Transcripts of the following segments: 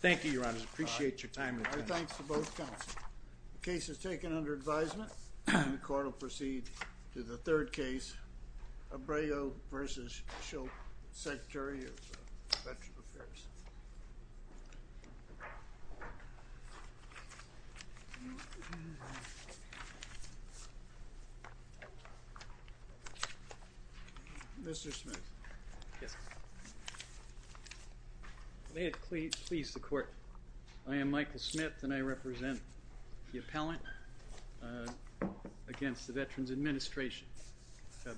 Thank you, Your Honor. I appreciate your time and attention. All right. Thanks to both counsels. The case is taken under advisement. The court will proceed to the third case, Abrego v. Shulkin, Secretary of Veterans Affairs. Mr. Smith. Yes, sir. May it please the court. I am Michael Smith, and I represent the appellant against the Veterans Administration.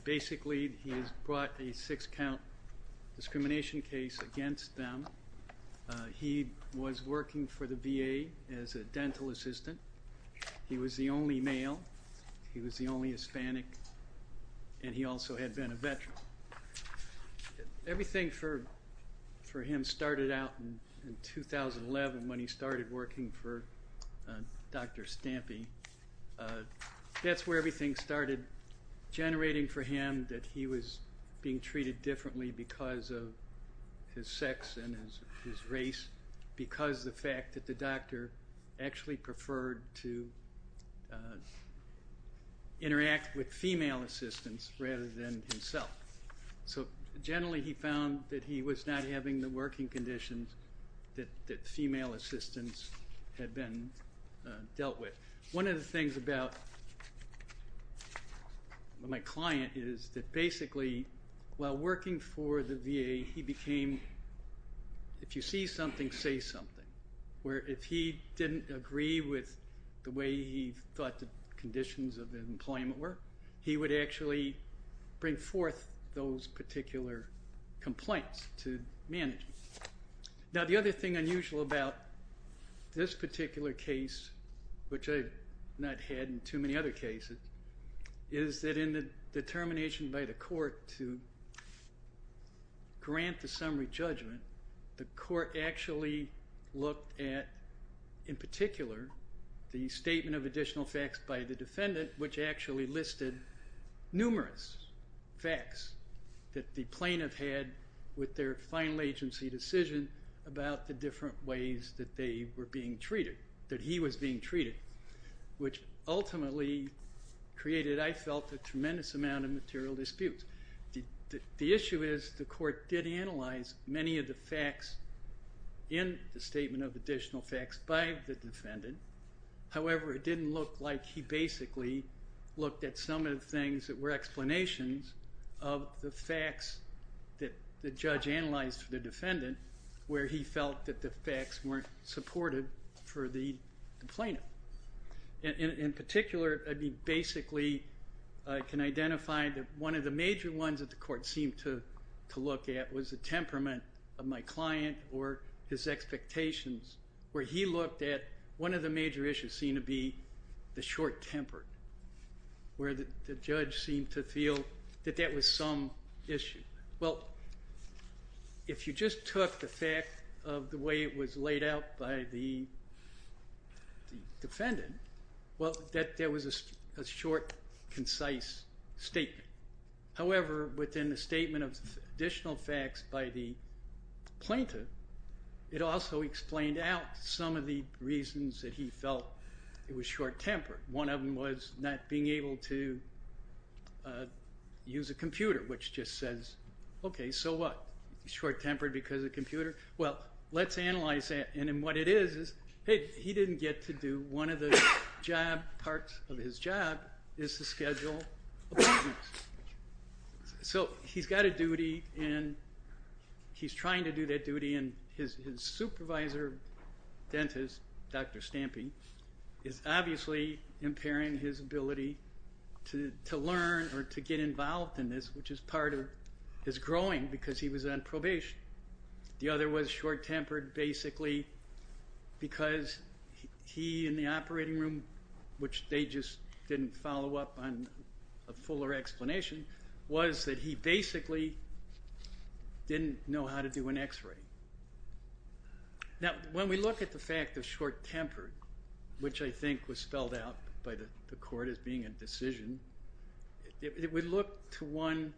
Basically, he has brought a six-count discrimination case against them. He was working for the VA as a dental assistant. He was the only male. He was the only Hispanic. And he also had been a veteran. Everything for him started out in 2011 when he started working for Dr. Stampy. That's where everything started generating for him that he was being treated differently because of his sex and his race, because of the fact that the doctor actually preferred to interact with female assistants rather than himself. So generally he found that he was not having the working conditions that female assistants had been dealt with. One of the things about my client is that basically while working for the VA, he became, if you see something, say something, where if he didn't agree with the way he thought the conditions of employment were, he would actually bring forth those particular complaints to manage. Now, the other thing unusual about this particular case, which I have not had in too many other cases, is that in the determination by the court to grant the summary judgment, the court actually looked at, in particular, the statement of additional facts by the defendant, which actually listed numerous facts that the plaintiff had with their final agency decision about the different ways that they were being treated, that he was being treated, which ultimately created, I felt, a tremendous amount of material disputes. The issue is the court did analyze many of the facts in the statement of additional facts by the defendant. However, it didn't look like he basically looked at some of the things that were explanations of the facts that the judge analyzed for the defendant, where he felt that the facts weren't supported for the plaintiff. In particular, he basically can identify that one of the major ones that the court seemed to look at was the temperament of my client or his expectations, where he looked at one of the major issues seen to be the short temper, where the judge seemed to feel that that was some issue. Well, if you just took the fact of the way it was laid out by the defendant, well, there was a short, concise statement. However, within the statement of additional facts by the plaintiff, it also explained out some of the reasons that he felt it was short tempered. One of them was not being able to use a computer, which just says, okay, so what, he's short tempered because of the computer? Well, let's analyze that, and what it is is, hey, he didn't get to do one of the parts of his job, is to schedule appointments. So he's got a duty, and he's trying to do that duty, and his supervisor dentist, Dr. Stampy, is obviously impairing his ability to learn or to get involved in this, which is part of his growing, because he was on probation. The other was short tempered basically because he, in the operating room, which they just didn't follow up on a fuller explanation, was that he basically didn't know how to do an x-ray. Now, when we look at the fact of short tempered, which I think was spelled out by the court as being a decision, it would look to one,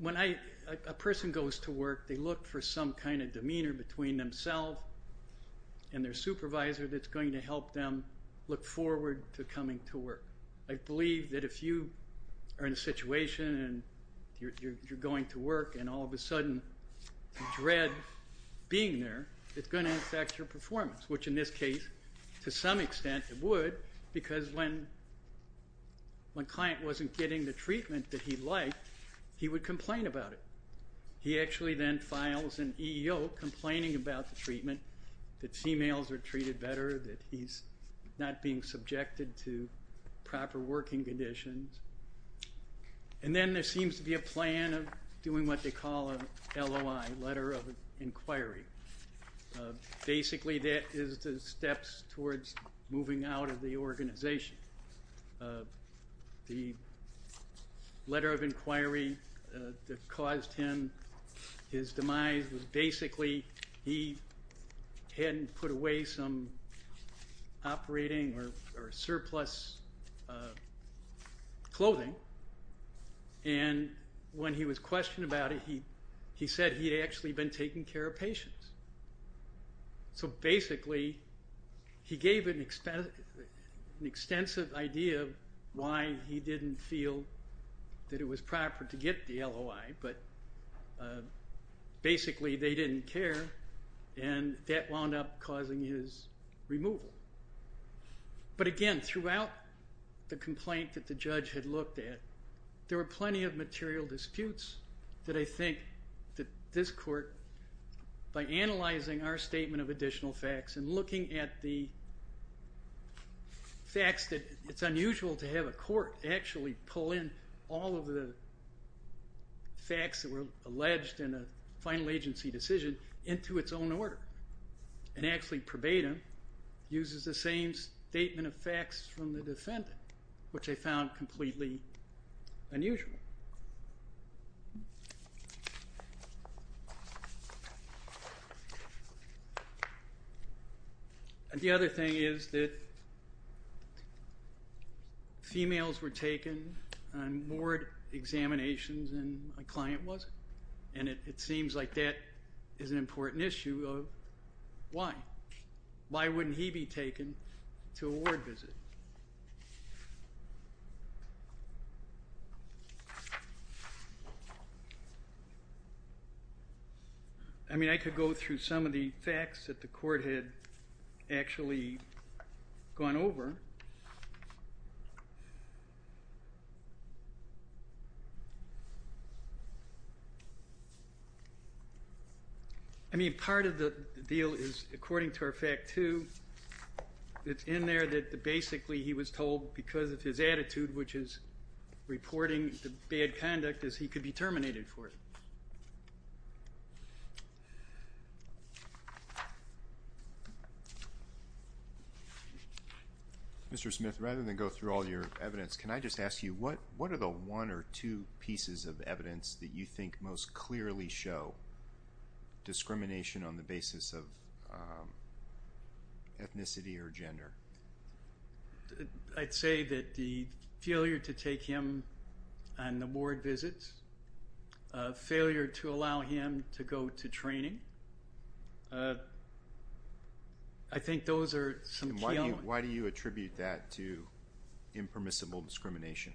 when a person goes to work, they look for some kind of demeanor between themselves and their supervisor that's going to help them look forward to coming to work. I believe that if you are in a situation and you're going to work and all of a sudden you dread being there, it's going to affect your performance, which in this case, to some extent, it would, because when a client wasn't getting the treatment that he'd like, he would complain about it. He actually then files an EEO complaining about the treatment, that females are treated better, that he's not being subjected to proper working conditions. And then there seems to be a plan of doing what they call an LOI, Letter of Inquiry. Basically that is the steps towards moving out of the organization. The Letter of Inquiry that caused him his demise was basically he hadn't put away some operating or surplus clothing, and when he was questioned about it, he said he'd actually been taking care of patients. So basically he gave an extensive idea of why he didn't feel that it was proper to get the LOI, but basically they didn't care, and that wound up causing his removal. But again, throughout the complaint that the judge had looked at, there were plenty of material disputes that I think that this court, by analyzing our statement of additional facts and looking at the facts that it's unusual to have a court actually pull in all of the facts that were alleged in a final agency decision into its own order and actually purbate them, uses the same statement of facts from the defendant, which I found completely unusual. Thank you. The other thing is that females were taken on ward examinations and a client wasn't, and it seems like that is an important issue of why. Why wouldn't he be taken to a ward visit? I mean, I could go through some of the facts that the court had actually gone over. I mean, part of the deal is, according to our fact two, it's in there that basically he was told because of his attitude, which is reporting the bad conduct, is he could be terminated for it. Mr. Smith, rather than go through all your evidence, can I just ask you, what are the one or two pieces of evidence that you think most clearly show discrimination on the basis of ethnicity or gender? I'd say that the failure to take him on the ward visits, failure to allow him to go to training, I think those are some key elements. Why do you attribute that to impermissible discrimination?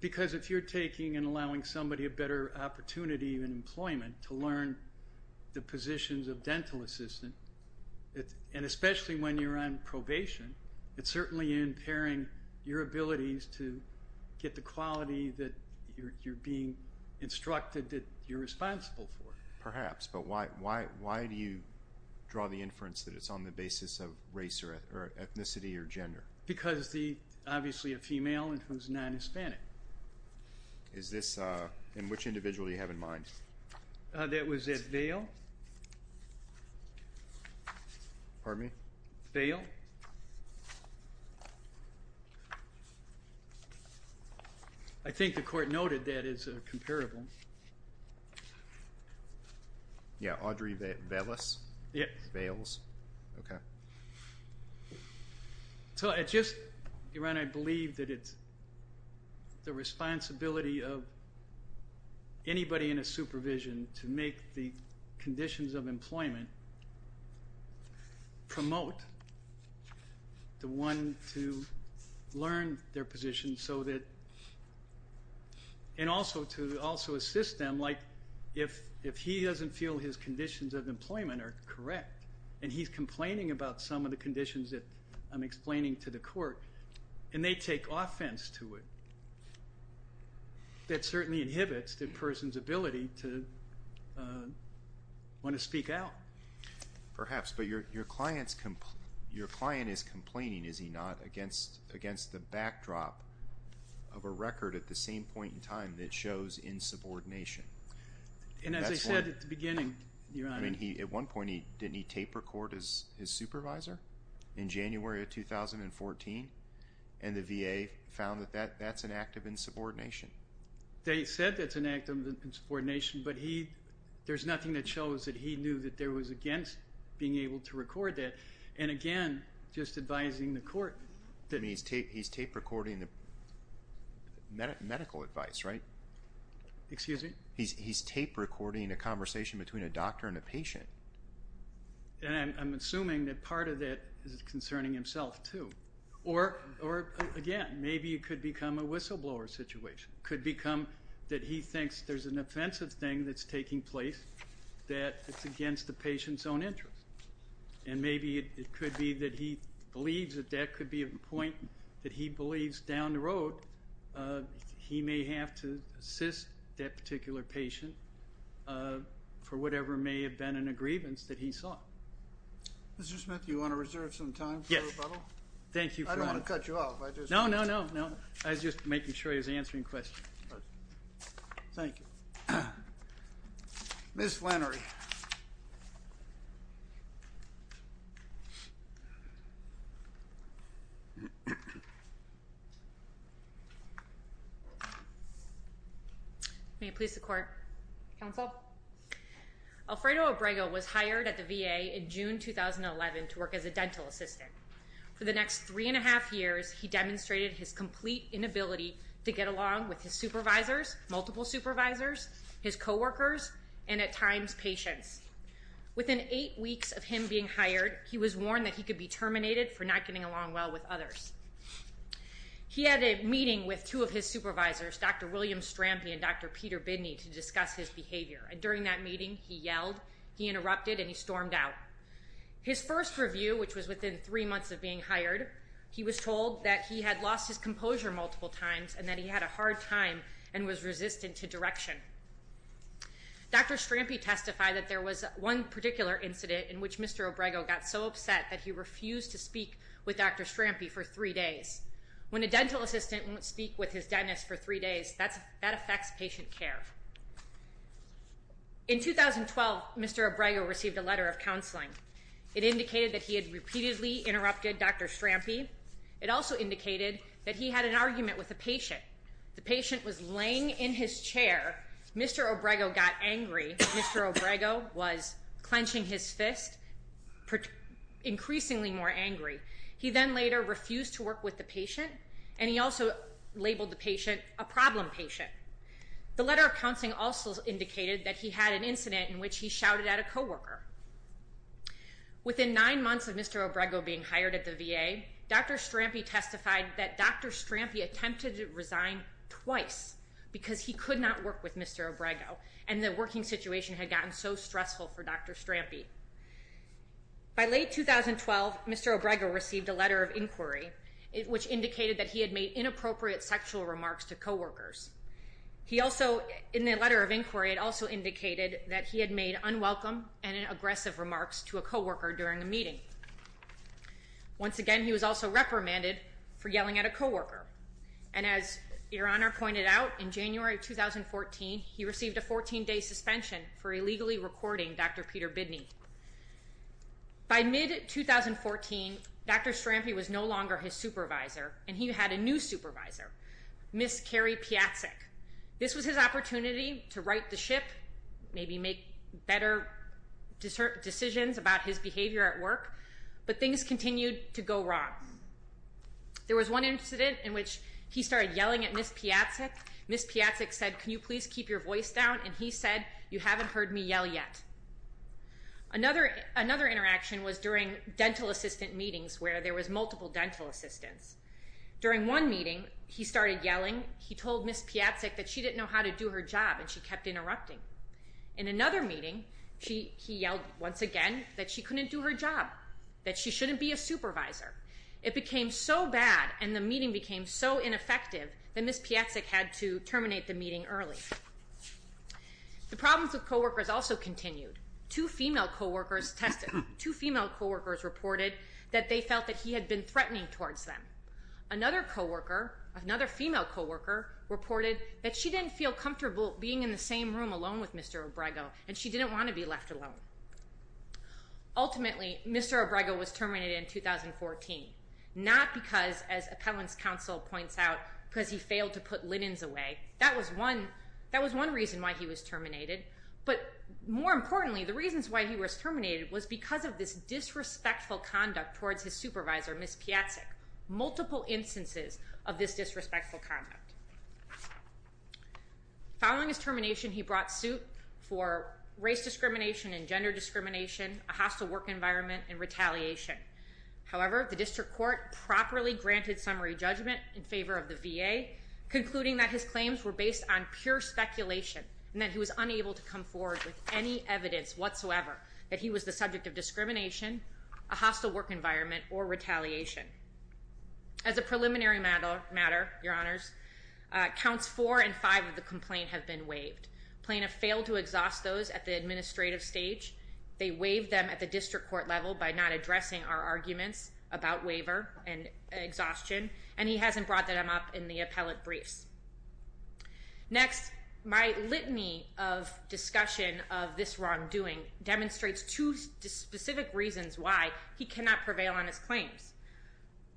Because if you're taking and allowing somebody a better opportunity in employment to learn the positions of dental assistant, and especially when you're on probation, it's certainly impairing your abilities to get the quality that you're being instructed that you're responsible for. Perhaps, but why do you draw the inference that it's on the basis of race or ethnicity or gender? Because obviously a female and who's non-Hispanic. In which individual do you have in mind? That was at Vail? Pardon me? Vail. I think the court noted that as a comparable. Yeah, Audrey Vailis? Yes. Vails, okay. Iran, I believe that it's the responsibility of anybody in a supervision to make the conditions of employment promote the one to learn their position and also to assist them, like if he doesn't feel his conditions of employment are correct and he's complaining about some of the conditions that I'm explaining to the court and they take offense to it, that certainly inhibits the person's ability to want to speak out. Perhaps, but your client is complaining, is he not, against the backdrop of a record at the same point in time that shows insubordination? I mean, at one point didn't he tape record his supervisor in January of 2014 and the VA found that that's an act of insubordination? They said that's an act of insubordination, but there's nothing that shows that he knew that there was against being able to record that. And again, just advising the court. He's tape recording the medical advice, right? Excuse me? He's tape recording a conversation between a doctor and a patient. And I'm assuming that part of that is concerning himself too. Or, again, maybe it could become a whistleblower situation. It could become that he thinks there's an offensive thing that's taking place that's against the patient's own interest. And maybe it could be that he believes that that could be a point that he believes down the road he may have to assist that particular patient for whatever may have been an aggrievance that he saw. Mr. Smith, do you want to reserve some time for rebuttal? Yes. Thank you for that. I don't want to cut you off. No, no, no. I was just making sure he was answering questions. Thank you. Ms. Flannery. May it please the Court. Counsel. Alfredo Obrego was hired at the VA in June 2011 to work as a dental assistant. For the next three and a half years, he demonstrated his complete inability to get along with his supervisors, multiple supervisors, his coworkers, and at times patients. Within eight weeks of him being hired, he was warned that he could be terminated for not getting along well with others. He had a meeting with two of his supervisors, Dr. William Strampi and Dr. Peter Bidney, to discuss his behavior. And during that meeting, he yelled, he interrupted, and he stormed out. His first review, which was within three months of being hired, he was told that he had lost his composure multiple times and that he had a hard time and was resistant to direction. Dr. Strampi testified that there was one particular incident in which Mr. Obrego got so upset that he refused to speak with Dr. Strampi for three days. When a dental assistant won't speak with his dentist for three days, that affects patient care. In 2012, Mr. Obrego received a letter of counseling. It indicated that he had repeatedly interrupted Dr. Strampi. It also indicated that he had an argument with a patient. The patient was laying in his chair. Mr. Obrego got angry. Mr. Obrego was clenching his fist, increasingly more angry. He then later refused to work with the patient, and he also labeled the patient a problem patient. The letter of counseling also indicated that he had an incident in which he shouted at a coworker. Within nine months of Mr. Obrego being hired at the VA, Dr. Strampi testified that Dr. Strampi attempted to resign twice because he could not work with Mr. Obrego, and the working situation had gotten so stressful for Dr. Strampi. By late 2012, Mr. Obrego received a letter of inquiry, which indicated that he had made inappropriate sexual remarks to coworkers. In the letter of inquiry, it also indicated that he had made unwelcome and aggressive remarks to a coworker during a meeting. Once again, he was also reprimanded for yelling at a coworker. And as Your Honor pointed out, in January of 2014, he received a 14-day suspension for illegally recording Dr. Peter Bidney. By mid-2014, Dr. Strampi was no longer his supervisor, and he had a new supervisor, Ms. Carrie Piatcik. This was his opportunity to right the ship, maybe make better decisions about his behavior at work, but things continued to go wrong. There was one incident in which he started yelling at Ms. Piatcik. Ms. Piatcik said, can you please keep your voice down? And he said, you haven't heard me yell yet. Another interaction was during dental assistant meetings where there was multiple dental assistants. During one meeting, he started yelling. He told Ms. Piatcik that she didn't know how to do her job, and she kept interrupting. In another meeting, he yelled once again that she couldn't do her job, that she shouldn't be a supervisor. It became so bad, and the meeting became so ineffective, that Ms. Piatcik had to terminate the meeting early. The problems with co-workers also continued. Two female co-workers reported that they felt that he had been threatening towards them. Another female co-worker reported that she didn't feel comfortable being in the same room alone with Mr. Obrego, and she didn't want to be left alone. Ultimately, Mr. Obrego was terminated in 2014, not because, as Appellant's Counsel points out, because he failed to put linens away. That was one reason why he was terminated. But more importantly, the reasons why he was terminated was because of this disrespectful conduct towards his supervisor, Ms. Piatcik. Multiple instances of this disrespectful conduct. Following his termination, he brought suit for race discrimination and gender discrimination, a hostile work environment, and retaliation. However, the District Court properly granted summary judgment in favor of the VA, concluding that his claims were based on pure speculation, and that he was unable to come forward with any evidence whatsoever that he was the subject of discrimination, a hostile work environment, or retaliation. As a preliminary matter, Your Honors, Counts 4 and 5 of the complaint have been waived. Plaintiff failed to exhaust those at the administrative stage. They waived them at the District Court level by not addressing our arguments about waiver and exhaustion, and he hasn't brought them up in the appellate briefs. Next, my litany of discussion of this wrongdoing demonstrates two specific reasons why he cannot prevail on his claims.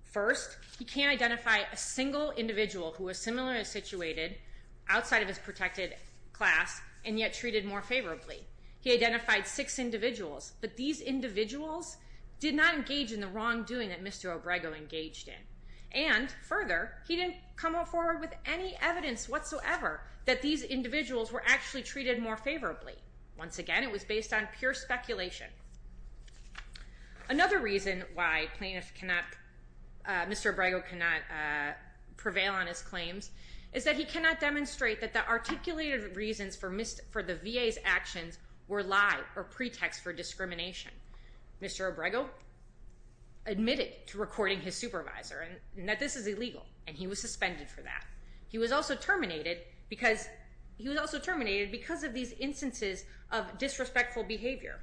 First, he can't identify a single individual who was similarly situated outside of his protected class and yet treated more favorably. He identified six individuals, but these individuals did not engage in the wrongdoing that Mr. Obrego engaged in. And further, he didn't come forward with any evidence whatsoever that these individuals were actually treated more favorably. Once again, it was based on pure speculation. Another reason why Mr. Obrego cannot prevail on his claims is that he cannot demonstrate that the articulated reasons for the VA's actions were lie or pretext for discrimination. Mr. Obrego admitted to recording his supervisor that this is illegal, and he was suspended for that. He was also terminated because of these instances of disrespectful behavior.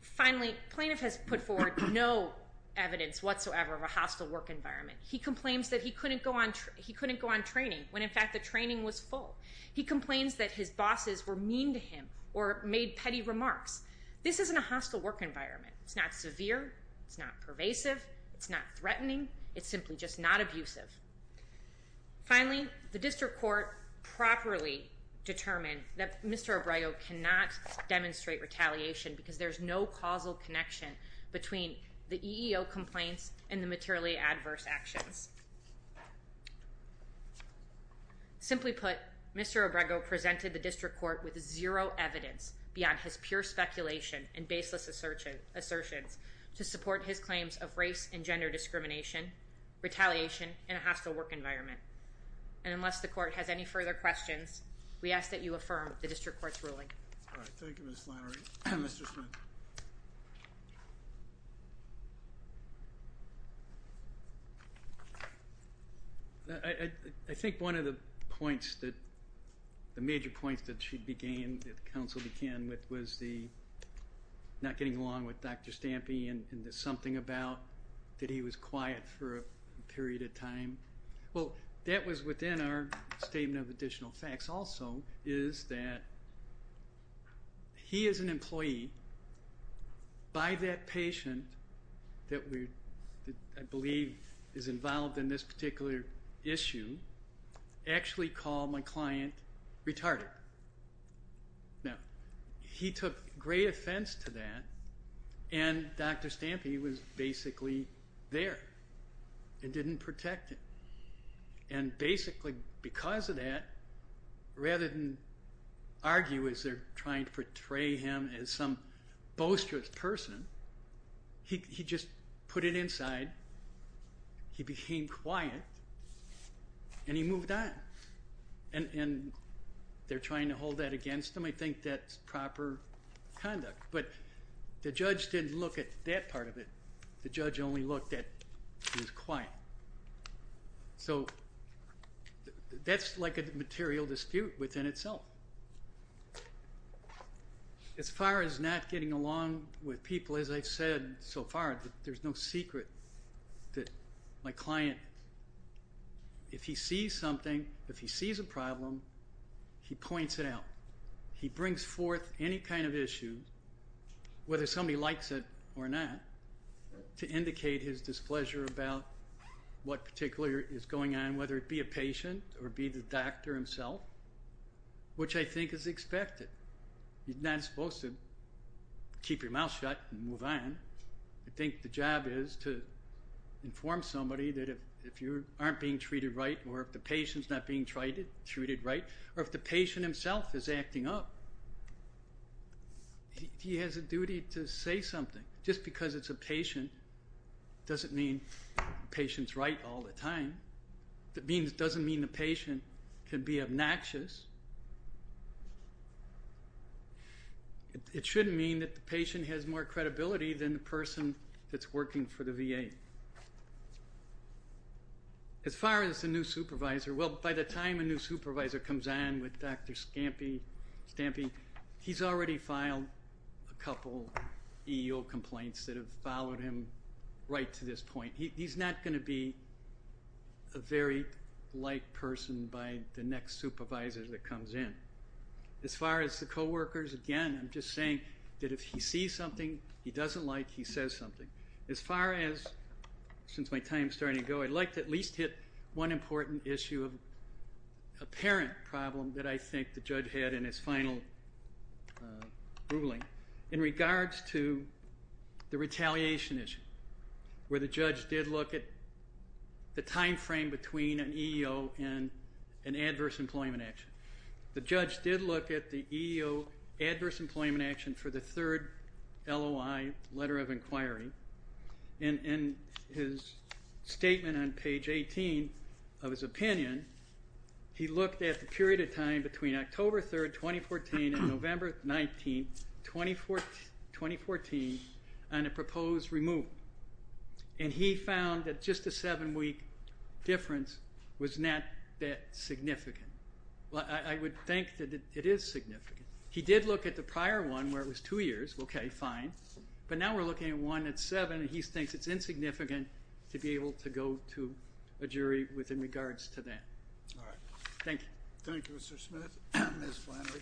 Finally, plaintiff has put forward no evidence whatsoever of a hostile work environment. He complains that he couldn't go on training when, in fact, the training was full. He complains that his bosses were mean to him or made petty remarks. This isn't a hostile work environment. It's not severe. It's not pervasive. It's not threatening. It's simply just not abusive. Finally, the district court properly determined that Mr. Obrego cannot demonstrate retaliation because there's no causal connection between the EEO complaints and the materially adverse actions. Simply put, Mr. Obrego presented the district court with zero evidence beyond his pure speculation and baseless assertions to support his claims of race and gender discrimination, retaliation, and a hostile work environment. And unless the court has any further questions, we ask that you affirm the district court's ruling. All right. Thank you, Ms. Flannery. Mr. Schmidt. I think one of the points that the major points that she began, that the counsel began with, was the not getting along with Dr. Stampi and the something about that he was quiet for a period of time. Well, that was within our statement of additional facts also is that he is an employee by that patient that we, I believe, is involved in this particular issue, actually called my client retarded. Now, he took great offense to that, and Dr. Stampi was basically there and didn't protect him. And basically because of that, rather than argue as they're trying to portray him as some boisterous person, he just put it inside, he became quiet, and he moved on. And they're trying to hold that against him. I think that's proper conduct. But the judge didn't look at that part of it. The judge only looked at he was quiet. So that's like a material dispute within itself. As far as not getting along with people, as I've said so far, there's no secret that my client, if he sees something, if he sees a problem, he points it out. He brings forth any kind of issue, whether somebody likes it or not, to indicate his displeasure about what particularly is going on, whether it be a patient or be the doctor himself, which I think is expected. You're not supposed to keep your mouth shut and move on. I think the job is to inform somebody that if you aren't being treated right or if the patient's not being treated right or if the patient himself is acting up, he has a duty to say something. Just because it's a patient doesn't mean the patient's right all the time. It doesn't mean the patient can be obnoxious. It shouldn't mean that the patient has more credibility than the person that's working for the VA. As far as the new supervisor, well, by the time a new supervisor comes on with Dr. Stampy, he's already filed a couple EEO complaints that have followed him right to this point. He's not going to be a very light person by the next supervisor that comes in. As far as the co-workers, again, I'm just saying that if he sees something he doesn't like, he says something. As far as, since my time's starting to go, I'd like to at least hit one important issue of apparent problem that I think the judge had in his final ruling in regards to the retaliation issue where the judge did look at the time frame between an EEO and an adverse employment action. The judge did look at the EEO adverse employment action for the third LOI letter of inquiry, and in his statement on page 18 of his opinion, he looked at the period of time between October 3rd, 2014 and November 19th, 2014 on a proposed removal, and he found that just a seven-week difference was not that significant. I would think that it is significant. He did look at the prior one where it was two years. Okay, fine. But now we're looking at one that's seven, and he thinks it's insignificant to be able to go to a jury with regards to that. All right. Thank you. Thank you, Mr. Smith. Ms. Flannery.